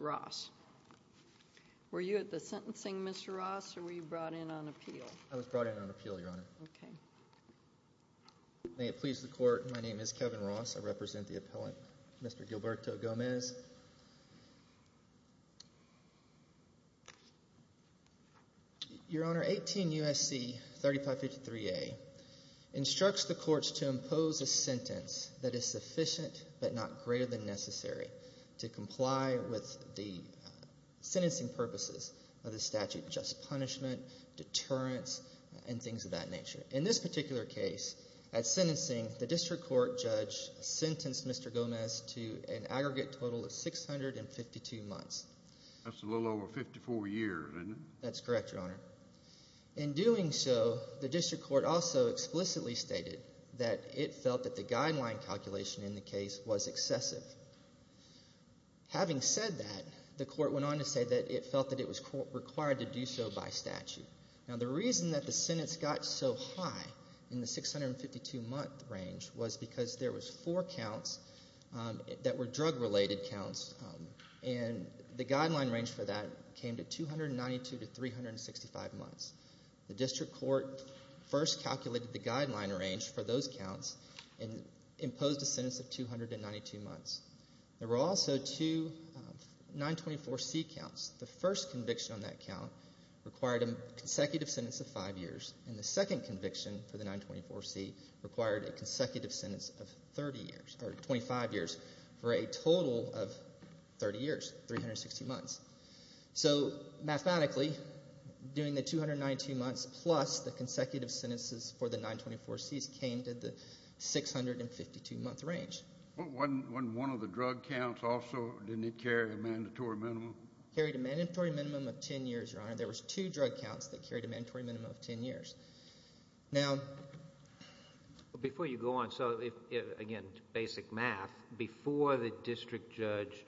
Ross. Were you at the sentencing Mr. Ross or were you brought in on appeal? I was brought in on appeal, Your Honor. May it please the Court, my name is Kevin Ross. I represent the appellant Mr. Gilberto Gomez. Your Honor, 18 U.S.C. 3553A instructs the courts to impose a sentence that is sufficient but not greater than necessary to comply with the sentencing purposes of the statute, just punishment, deterrence, and things of that nature. In this particular case, at sentencing, the district court judge sentenced Mr. Gomez to an aggregate total of 652 months. That's a little over 54 years, isn't it? That's correct, Your Honor. In doing so, the district court also explicitly stated that it felt that the guideline calculation in the case was excessive. Having said that, the court went on to say that it felt that it was required to do so by statute. Now the reason that the sentence got so high in the 652 month range was because there was four counts that were drug related counts and the The district court first calculated the guideline range for those counts and imposed a sentence of 292 months. There were also two 924C counts. The first conviction on that count required a consecutive sentence of five years and the second conviction for the 924C required a consecutive sentence of 30 years, or 25 years, for a total of 30 years, 360 months. So mathematically, doing the 292 months plus the consecutive sentences for the 924Cs came to the 652 month range. Wasn't one of the drug counts also, didn't it carry a mandatory minimum? Carried a mandatory minimum of 10 years, Your Honor. There was two drug counts that carried a mandatory minimum of 10 years. Before you go on, again, basic math, before the district judge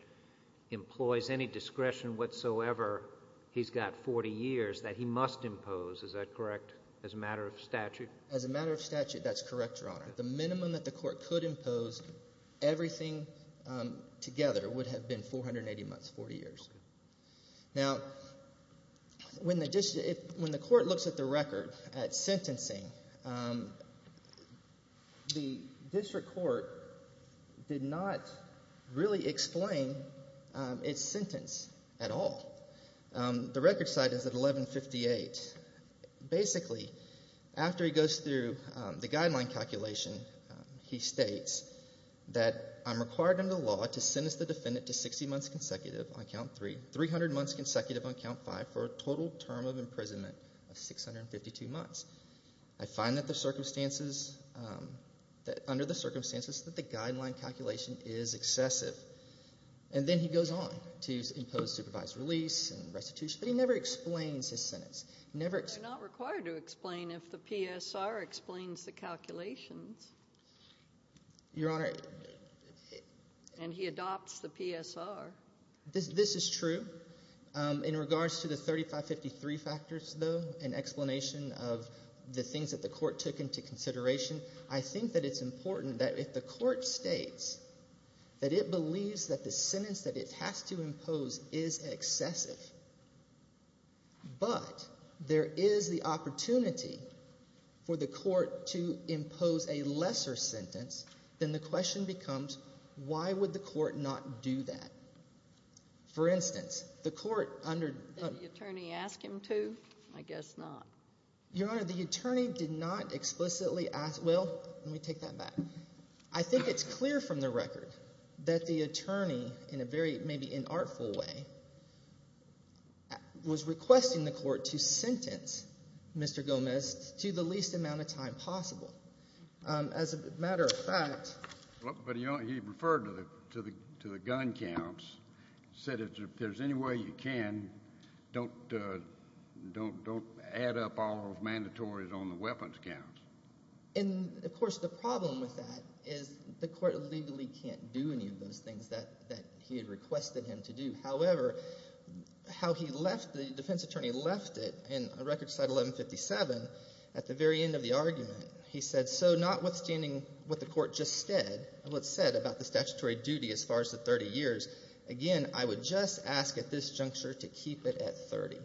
employs any discretion whatsoever, he's got 40 years that he must impose, is that correct, as a matter of statute? As a matter of statute, that's correct, Your Honor. The minimum that the court could impose, everything together, would have been 480 months, 40 years. Now, when the court looks at the record, at sentencing, the district court did not really explain its sentence at all. The record site is at 1158. Basically, after he goes through the guideline calculation, he states that I'm required under the law to sentence the defendant to 60 months consecutive on count three, 300 months consecutive on count five, for a total term of imprisonment of 652 months. I find that the circumstances, that under the circumstances that the guideline calculation is excessive, and then he goes on to impose supervised release and restitution, but he never explains his sentence. You're not required to explain if the PSR explains the calculations, and he adopts the PSR. This is true. In regards to the 3553 factors, though, and explanation of the things that the court took into consideration, I think that it's important that if the court states that it believes that the sentence that it has to impose is excessive, but there is the opportunity for the court to impose a lesser sentence, then the question becomes, why would the court not do that? For instance, the court under... Did the attorney ask him to? I guess not. Your Honor, the attorney did not explicitly ask... Well, let me take that back. I think it's clear from the record that the attorney, in a very maybe inartful way, was requesting the court to sentence Mr. Gomez to the least amount of time possible. As a matter of fact... But he referred to the gun counts. He said if there's any way you can, don't add up all those mandatories on the weapons counts. And, of course, the problem with that is the court legally can't do any of those things that he had requested him to do. However, how he left, the defense attorney left it in Record Clause 1157, at the very end of the argument, he said, so notwithstanding what the court just said, what's said about the statutory duty as far as the 30 years, again, I would just ask at this juncture to keep it at 30,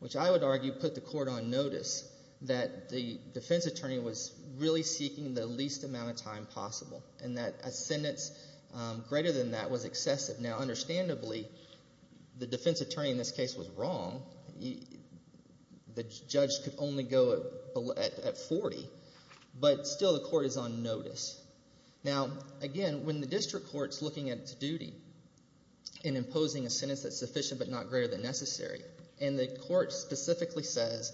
which I would argue put the court on notice that the defense attorney was really seeking the least amount of time possible, and that a sentence greater than that was excessive. Now, understandably, the defense attorney in this case was wrong. The judge could only go at 40, but still the district court's looking at its duty in imposing a sentence that's sufficient but not greater than necessary. And the court specifically says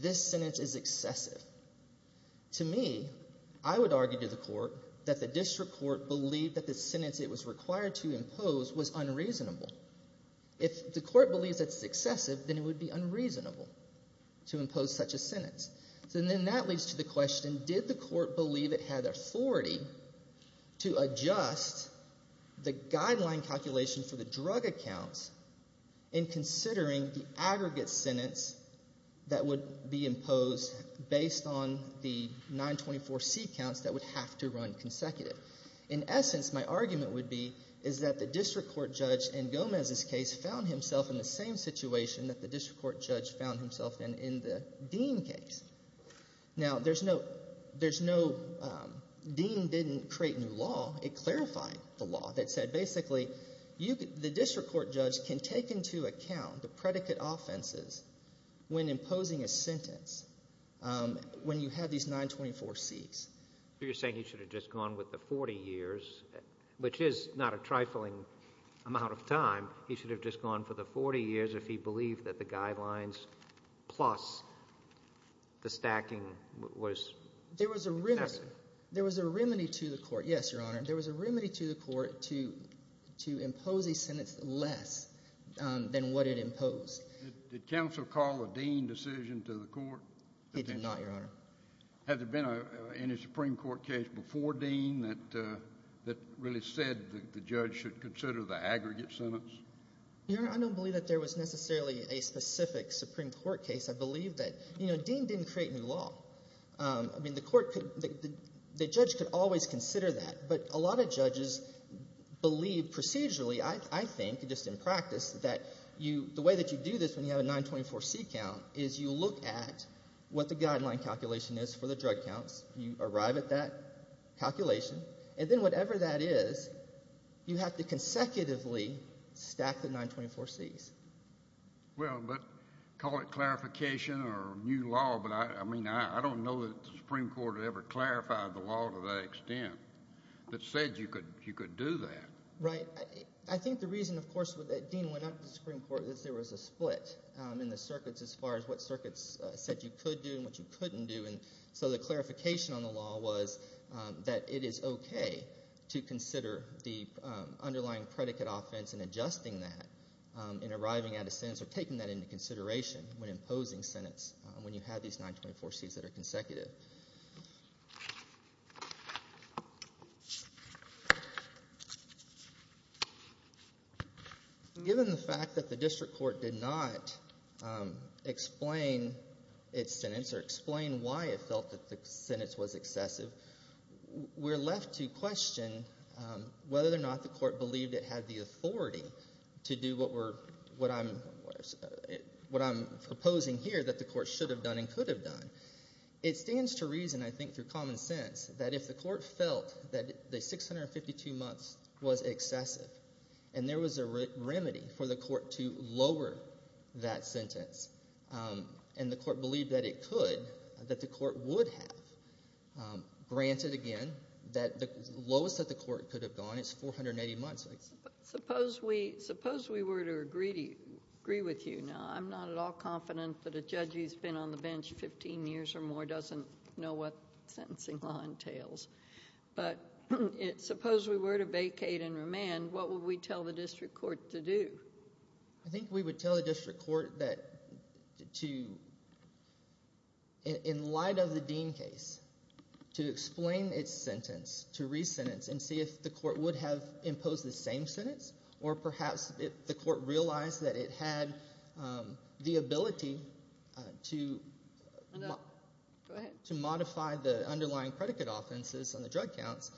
this sentence is excessive. To me, I would argue to the court that the district court believed that the sentence it was required to impose was unreasonable. If the court believes it's excessive, then it would be unreasonable to impose such a sentence. So then that leads to the question, did the court believe it had authority to adjust the guideline calculation for the drug accounts in considering the aggregate sentence that would be imposed based on the 924C counts that would have to run consecutive? In essence, my argument would be is that the district court judge in Gomez's case found himself in the same situation that the district court judge found himself in in the Dean case. Now, there's no, there's no, Dean didn't create new law. It clarified the law that said basically the district court judge can take into account the predicate offenses when imposing a sentence when you have these 924Cs. So you're saying he should have just gone with the 40 years, which is not a trifling amount of time. He should have just gone for the 40 years if he believed that the guidelines plus the stacking was... There was a remedy. There was a remedy to the court. Yes, Your Honor. There was a remedy to the court to impose a sentence less than what it imposed. Did counsel call a Dean decision to the court? He did not, Your Honor. Had there been any Supreme Court case before Dean that really said the judge should consider the aggregate sentence? Your Honor, I don't believe that there was necessarily a specific Supreme Court case. I believe that, you know, Dean didn't create new law. I mean, the court could, the judge could always consider that, but a lot of judges believe procedurally, I think, just in practice, that you, the way that you do this when you have a 924C count is you look at what the guideline calculation is for the drug counts. You arrive at that calculation, and then whatever that is, you have to consecutively stack the 924Cs. Well, but call it clarification or new law, but I mean, I don't know that the Supreme Court ever clarified the law to that extent that said you could do that. Right. I think the reason, of course, that Dean went up to the Supreme Court is there was a split in the circuits as far as what circuits said you could do and what you couldn't do, and so the clarification on the law was that it is okay to consider the underlying predicate offense and adjusting that in arriving at a sentence or taking that into consideration when imposing sentence when you have these 924Cs that are consecutive. Given the fact that the district thought that the sentence was excessive, we're left to question whether or not the court believed it had the authority to do what I'm proposing here that the court should have done and could have done. It stands to reason, I think through common sense, that if the court felt that the 652 months was excessive and there was a remedy for the court to lower that sentence and the court believed that it could, that the court would have, granted again that the lowest that the court could have gone is 480 months. Suppose we were to agree with you. Now, I'm not at all confident that a judge who's been on the bench 15 years or more doesn't know what sentencing law entails, but suppose we were to vacate and remand, what would we tell the district court to do? I think we would tell the district court that to, in light of the Dean case, to explain its sentence, to re-sentence and see if the court would have imposed the same sentence or perhaps if the court realized that it had the ability to modify the underlying predicate offenses and the drug counts,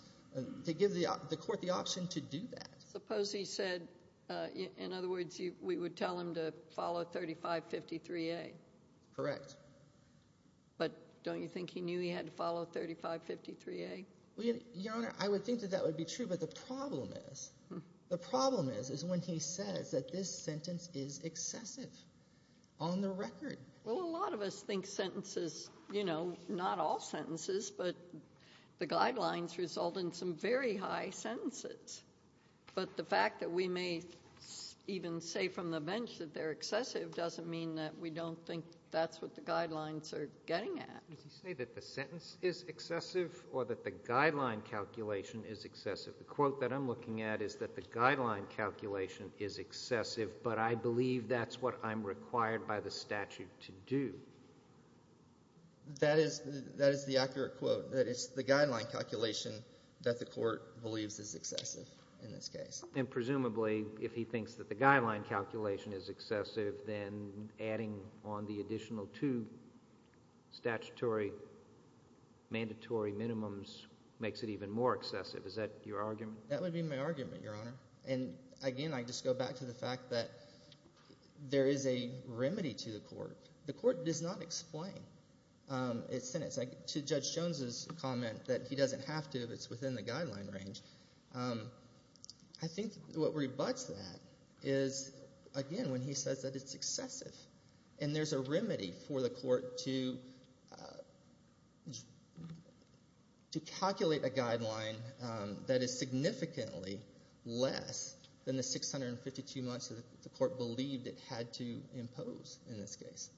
to give the court the option to do that. Suppose he said, in other words, we would tell him to follow 3553A. Correct. But don't you think he knew he had to follow 3553A? Your Honor, I would think that that would be true, but the problem is, the problem is is when he says that this sentence is excessive on the record. Well, a lot of us think sentences, you know, not all sentences, but the guidelines result in some very high sentences, but the fact that we may even say from the bench that they're excessive doesn't mean that we don't think that's what the guidelines are getting at. Did he say that the sentence is excessive or that the guideline calculation is excessive? The quote that I'm looking at is that the guideline calculation is excessive, but I believe that's what I'm required by the statute to do. That is the accurate quote, that it's the guideline calculation that the court believes is excessive in this case. And presumably, if he thinks that the guideline calculation is excessive, then adding on the additional two statutory mandatory minimums makes it even more excessive. Is that your argument? That would be my argument, Your Honor, and again, I just go back to the fact that there is a remedy to the court. The court does not explain its sentence. To Judge Jones's comment that he doesn't have to if it's within the guideline range, I think what rebutts that is, again, when he says that it's excessive, and there's a remedy for the court to believe it had to impose in this case.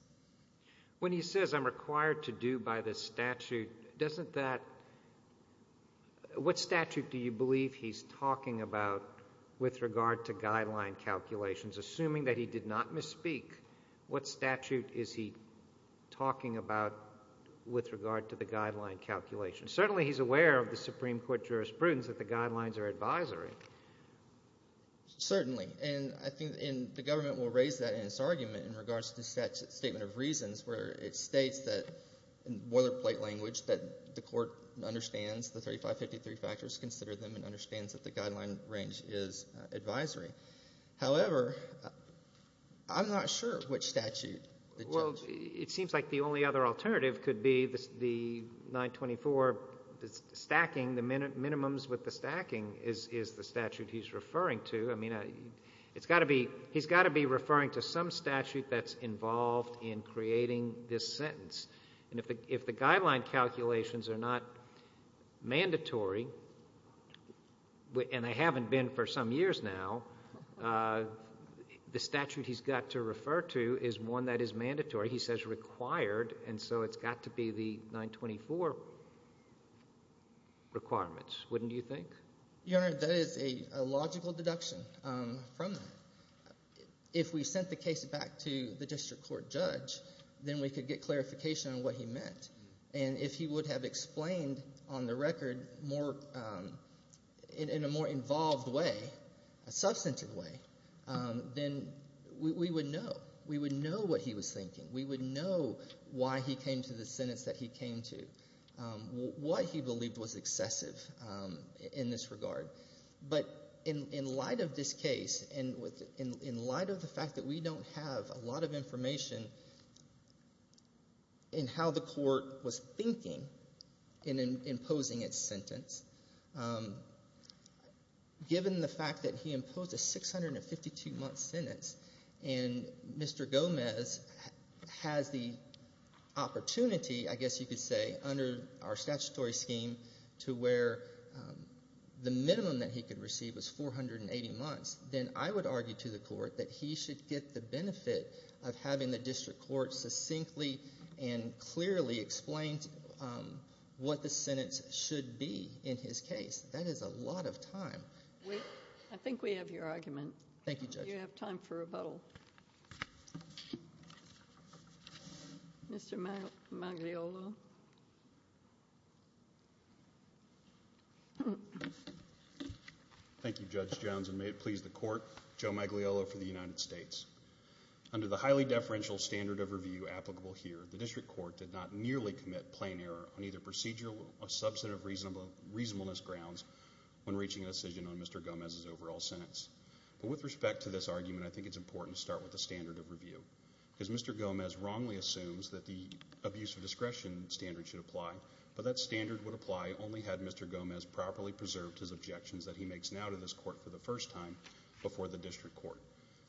When he says I'm required to do by the statute, doesn't that, what statute do you believe he's talking about with regard to guideline calculations? Assuming that he did not misspeak, what statute is he talking about with regard to the guideline calculation? Certainly he's aware of the Supreme Court jurisprudence that the guidelines are advisory. Certainly, and I think the government will raise that in its argument in regards to the Statement of Reasons where it states that, boilerplate language, that the court understands the 3553 factors, considers them, and understands that the guideline range is advisory. However, I'm not sure which statute. Well, it seems like the only other alternative could be the 924 stacking. The minimums with the stacking is the statute he's referring to. He's got to be referring to some statute that's involved in creating this sentence. If the guideline calculations are not mandatory, and they haven't been for some years now, the statute he's got to have is mandatory. Requirements, wouldn't you think? Your Honor, that is a logical deduction from that. If we sent the case back to the district court judge, then we could get clarification on what he meant. And if he would have explained on the record in a more involved way, a substantive way, then we would know. We would know what he was thinking. We would know why he came to the court, what he believed was excessive in this regard. But in light of this case, and in light of the fact that we don't have a lot of information in how the court was thinking in imposing its sentence, given the fact that he imposed a 652-month sentence, and Mr. Gomez has the statutory scheme to where the minimum that he could receive was 480 months, then I would argue to the court that he should get the benefit of having the district court succinctly and clearly explain what the sentence should be in his case. That is a lot of time. I think we have your Thank you, Judge Jones, and may it please the court, Joe Maglielo for the United States. Under the highly deferential standard of review applicable here, the district court did not nearly commit plain error on either procedural or substantive reasonableness grounds when reaching a decision on Mr. Gomez's overall sentence. But with respect to this argument, I think it's important to start with the standard of review. Because Mr. Gomez wrongly assumes that the abuse of discretion standard should apply, but that standard would apply only had Mr. Gomez properly preserved his objections that he makes now to this court for the first time before the district court.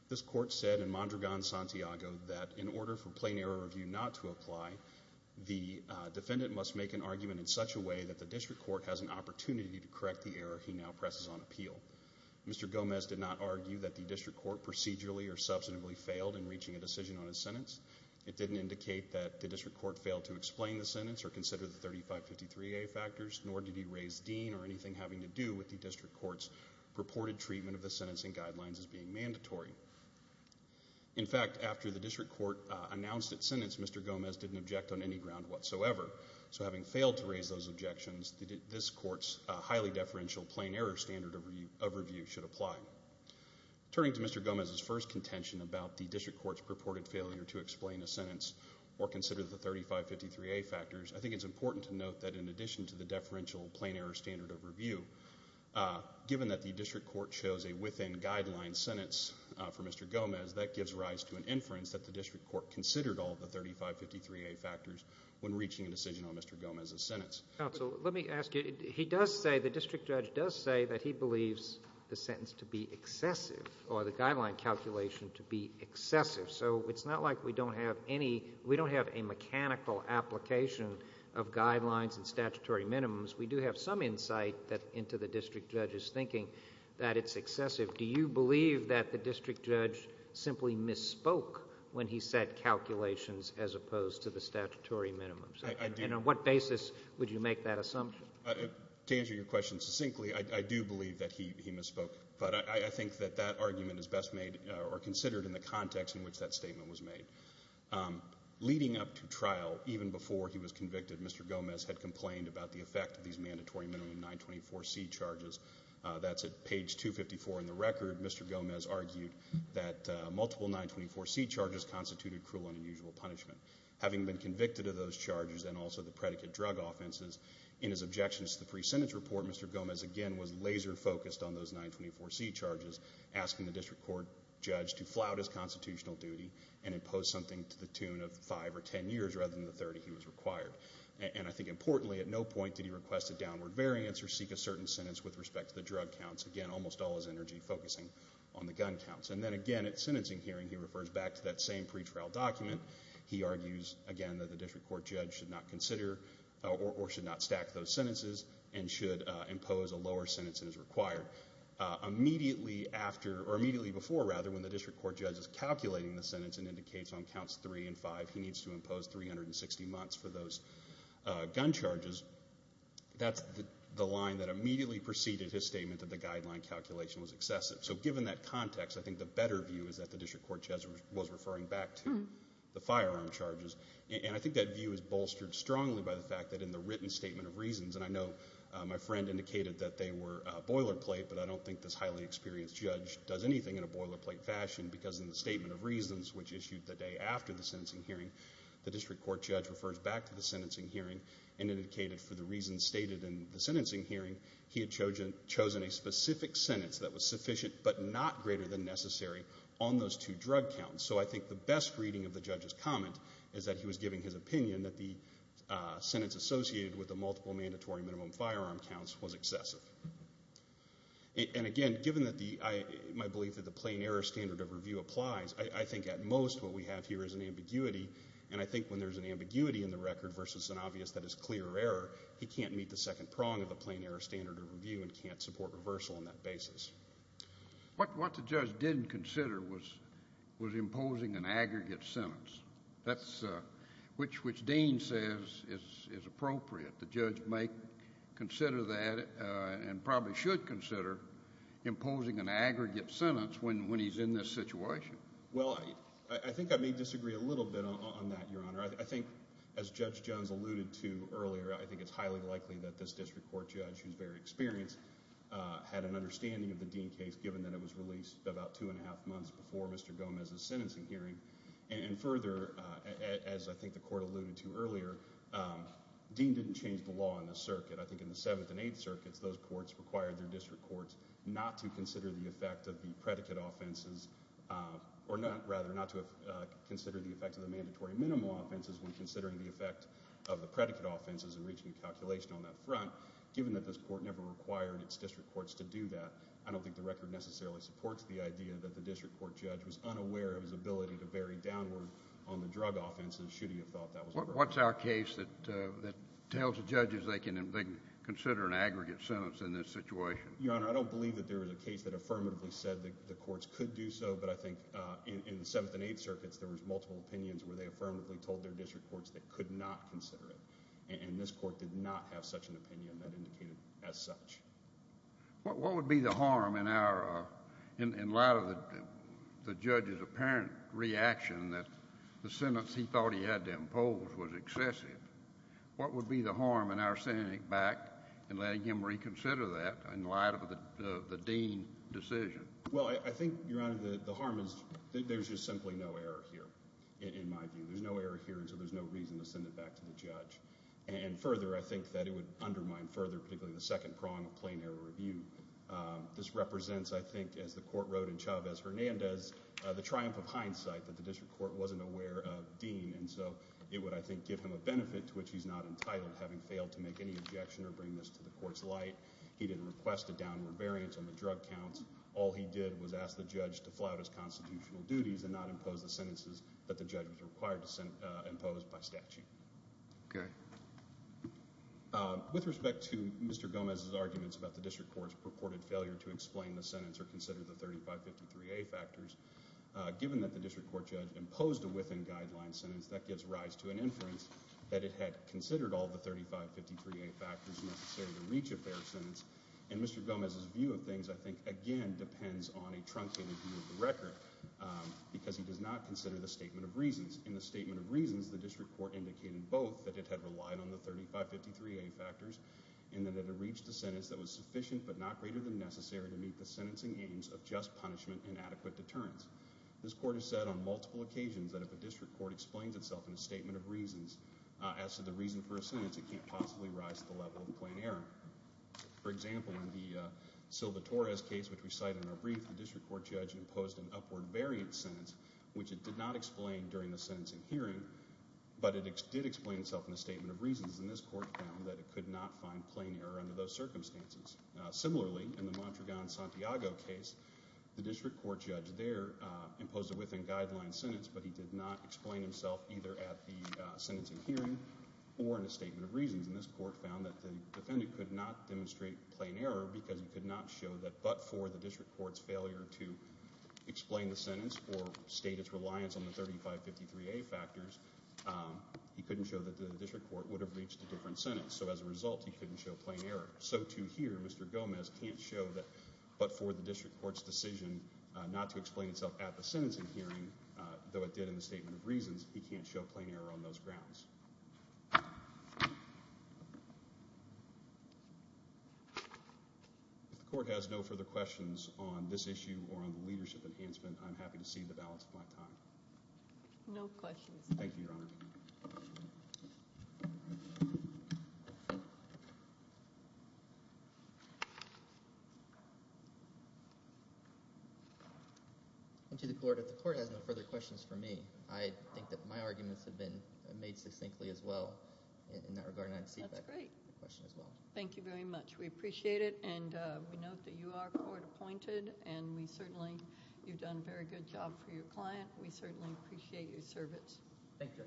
This court said in Mondragon-Santiago that in order for plain error review not to apply, the defendant must make an argument in such a way that the district court has an opportunity to correct the error he now presses on appeal. Mr. Gomez did not argue that the district court procedurally or substantively failed in reaching a decision on his sentence. It didn't indicate that the district court failed to explain the sentence or consider the 3553A factors, nor did he raise Dean or anything having to do with the district court's purported treatment of the sentencing guidelines as being mandatory. In fact, after the district court announced its sentence, Mr. Gomez didn't object on any ground whatsoever. So having failed to raise those objections, this court's highly deferential plain error standard of review should apply. Turning to Mr. Gomez's first contention about the district court's purported failure to explain a sentence or consider the 3553A factors, I think it's important to note that in addition to the deferential plain error standard of review, given that the district court chose a within guideline sentence for Mr. Gomez, that gives rise to an inference that the district court considered all the 3553A factors when reaching a decision on Mr. Gomez's sentence. Counsel, let me ask you, he does say, the district judge does say that he believes the sentence to be excessive or the guideline calculation to be excessive. So it's not like we don't have any mechanical application of guidelines and statutory minimums. We do have some insight into the district judge's thinking that it's excessive. Do you believe that the district judge simply misspoke when he said calculations as opposed to the statutory minimums? And on what basis would you make that assumption? To answer your question succinctly, I do believe that he misspoke. But I think that that argument is best made or considered in the context in which that statement was made. Leading up to trial, even before he was convicted, Mr. Gomez had complained about the effect of these mandatory minimum 924C charges. That's at page 254 in the record. Mr. Gomez argued that multiple 924C charges constituted cruel and unusual punishment. Having been convicted of those charges and also the predicate drug offenses, in his objections to the pre-sentence report, Mr. Gomez again was laser focused on those 924C charges, asking the district court judge to flout his 10 years rather than the 30 he was required. And I think importantly, at no point did he request a downward variance or seek a certain sentence with respect to the drug counts. Again, almost all his energy focusing on the gun counts. And then again, at sentencing hearing, he refers back to that same pretrial document. He argues again that the district court judge should not consider or should not stack those sentences and should impose a lower sentence than is required. Immediately after, or immediately before rather, when the district court judge is calculating the imposed 360 months for those gun charges, that's the line that immediately preceded his statement that the guideline calculation was excessive. So given that context, I think the better view is that the district court judge was referring back to the firearm charges. And I think that view is bolstered strongly by the fact that in the written statement of reasons, and I know my friend indicated that they were boilerplate, but I don't think this highly experienced judge does anything in a boilerplate fashion because in the statement of reasons, which issued the day after the district court judge refers back to the sentencing hearing and indicated for the reasons stated in the sentencing hearing, he had chosen a specific sentence that was sufficient but not greater than necessary on those two drug counts. So I think the best reading of the judge's comment is that he was giving his opinion that the sentence associated with the multiple mandatory minimum firearm counts was excessive. And again, given that the, my belief that the plain error standard of review applies, I think at most what we have here is an ambiguity. And I think when there's an ambiguity in the record versus an obvious that is clear error, he can't meet the second prong of the plain error standard of review and can't support reversal on that basis. What the judge didn't consider was imposing an aggregate sentence. That's which Dean says is appropriate. The judge might consider that and probably should consider imposing an aggregate sentence when he's in this situation. Well, I think I may disagree a little bit on that, your honor. I think as Judge Jones alluded to earlier, I think it's highly likely that this district court judge, who's very experienced, had an understanding of the Dean case given that it was released about two and a half months before Mr. Gomez's sentencing hearing. And further, as I think the court alluded to earlier, Dean didn't change the law in the circuit. I think in the seventh and eighth circuits, those courts required their district courts not to consider the effect of the predicate offenses, or rather, not to consider the effect of the mandatory minimal offenses when considering the effect of the predicate offenses and reaching a calculation on that front. Given that this court never required its district courts to do that, I don't think the record necessarily supports the idea that the district court judge was unaware of his ability to vary downward on the drug offenses should he have thought that was appropriate. What's our case that tells the judges they can consider an aggregate sentence in this situation? Your honor, I don't believe that there was a case that affirmatively said that the courts could do so, but I think in the seventh and eighth circuits, there was multiple opinions where they affirmatively told their district courts they could not consider it. And this court did not have such an opinion that indicated as such. What would be the harm in our, in light of the judge's apparent reaction that the sentence he thought he had to impose was excessive? What would be the harm in our sending back and letting him reconsider that in light of the dean decision? Well, I think, your honor, the harm is there's just simply no error here, in my view. There's no error here, and so there's no reason to send it back to the judge. And further, I think that it would undermine further, particularly the second prong of plain error review. This represents, I think, as the court wrote in Chavez-Hernandez, the triumph of hindsight that the district court wasn't aware of dean. And so it would, I think, give him a benefit to which he's not entitled, having failed to make any objection or bring this to the court's light. He didn't request a downward variance on the drug counts. All he did was ask the judge to flout his constitutional duties and not impose the sentences that the judge was required to impose by statute. Okay. With respect to Mr. Gomez's arguments about the district court's purported failure to explain the sentence or 3553A factors, given that the district court judge imposed a within-guideline sentence, that gives rise to an inference that it had considered all the 3553A factors necessary to reach a fair sentence. And Mr. Gomez's view of things, I think, again, depends on a truncated view of the record, because he does not consider the statement of reasons. In the statement of reasons, the district court indicated both, that it had relied on the 3553A factors and that it had reached a sentence that was sufficient but not greater than necessary to meet the sentencing aims of just punishment and adequate deterrence. This court has said on multiple occasions that if a district court explains itself in a statement of reasons as to the reason for a sentence, it can't possibly rise to the level of a plain error. For example, in the Silva-Torres case, which we cite in our brief, the district court judge imposed an upward variance sentence, which it did not explain during the sentencing hearing, but it did explain itself in a statement of reasons, and this court found that it could not find plain error under those circumstances. Similarly, in the Montregan-Santiago case, the district court judge there imposed a within guideline sentence, but he did not explain himself either at the sentencing hearing or in a statement of reasons, and this court found that the defendant could not demonstrate plain error because he could not show that but for the district court's failure to explain the sentence or state its reliance on the 3553A factors, he couldn't show that the district court would have reached a different error. So to hear Mr. Gomez can't show that but for the district court's decision not to explain itself at the sentencing hearing, though it did in the statement of reasons, he can't show plain error on those grounds. If the court has no further questions on this issue or on the leadership of the district court, I'll turn it over to you, Mr. Gomez. Thank you, Your Honor. If the court has no further questions for me, I think that my arguments have been made succinctly as well in that regard, and I'd cede that question as well. That's great. Thank you very much. We appreciate it, and we note that you are court appointed, and we certainly, you've done a very good job for your client. We certainly appreciate your service. Thank you.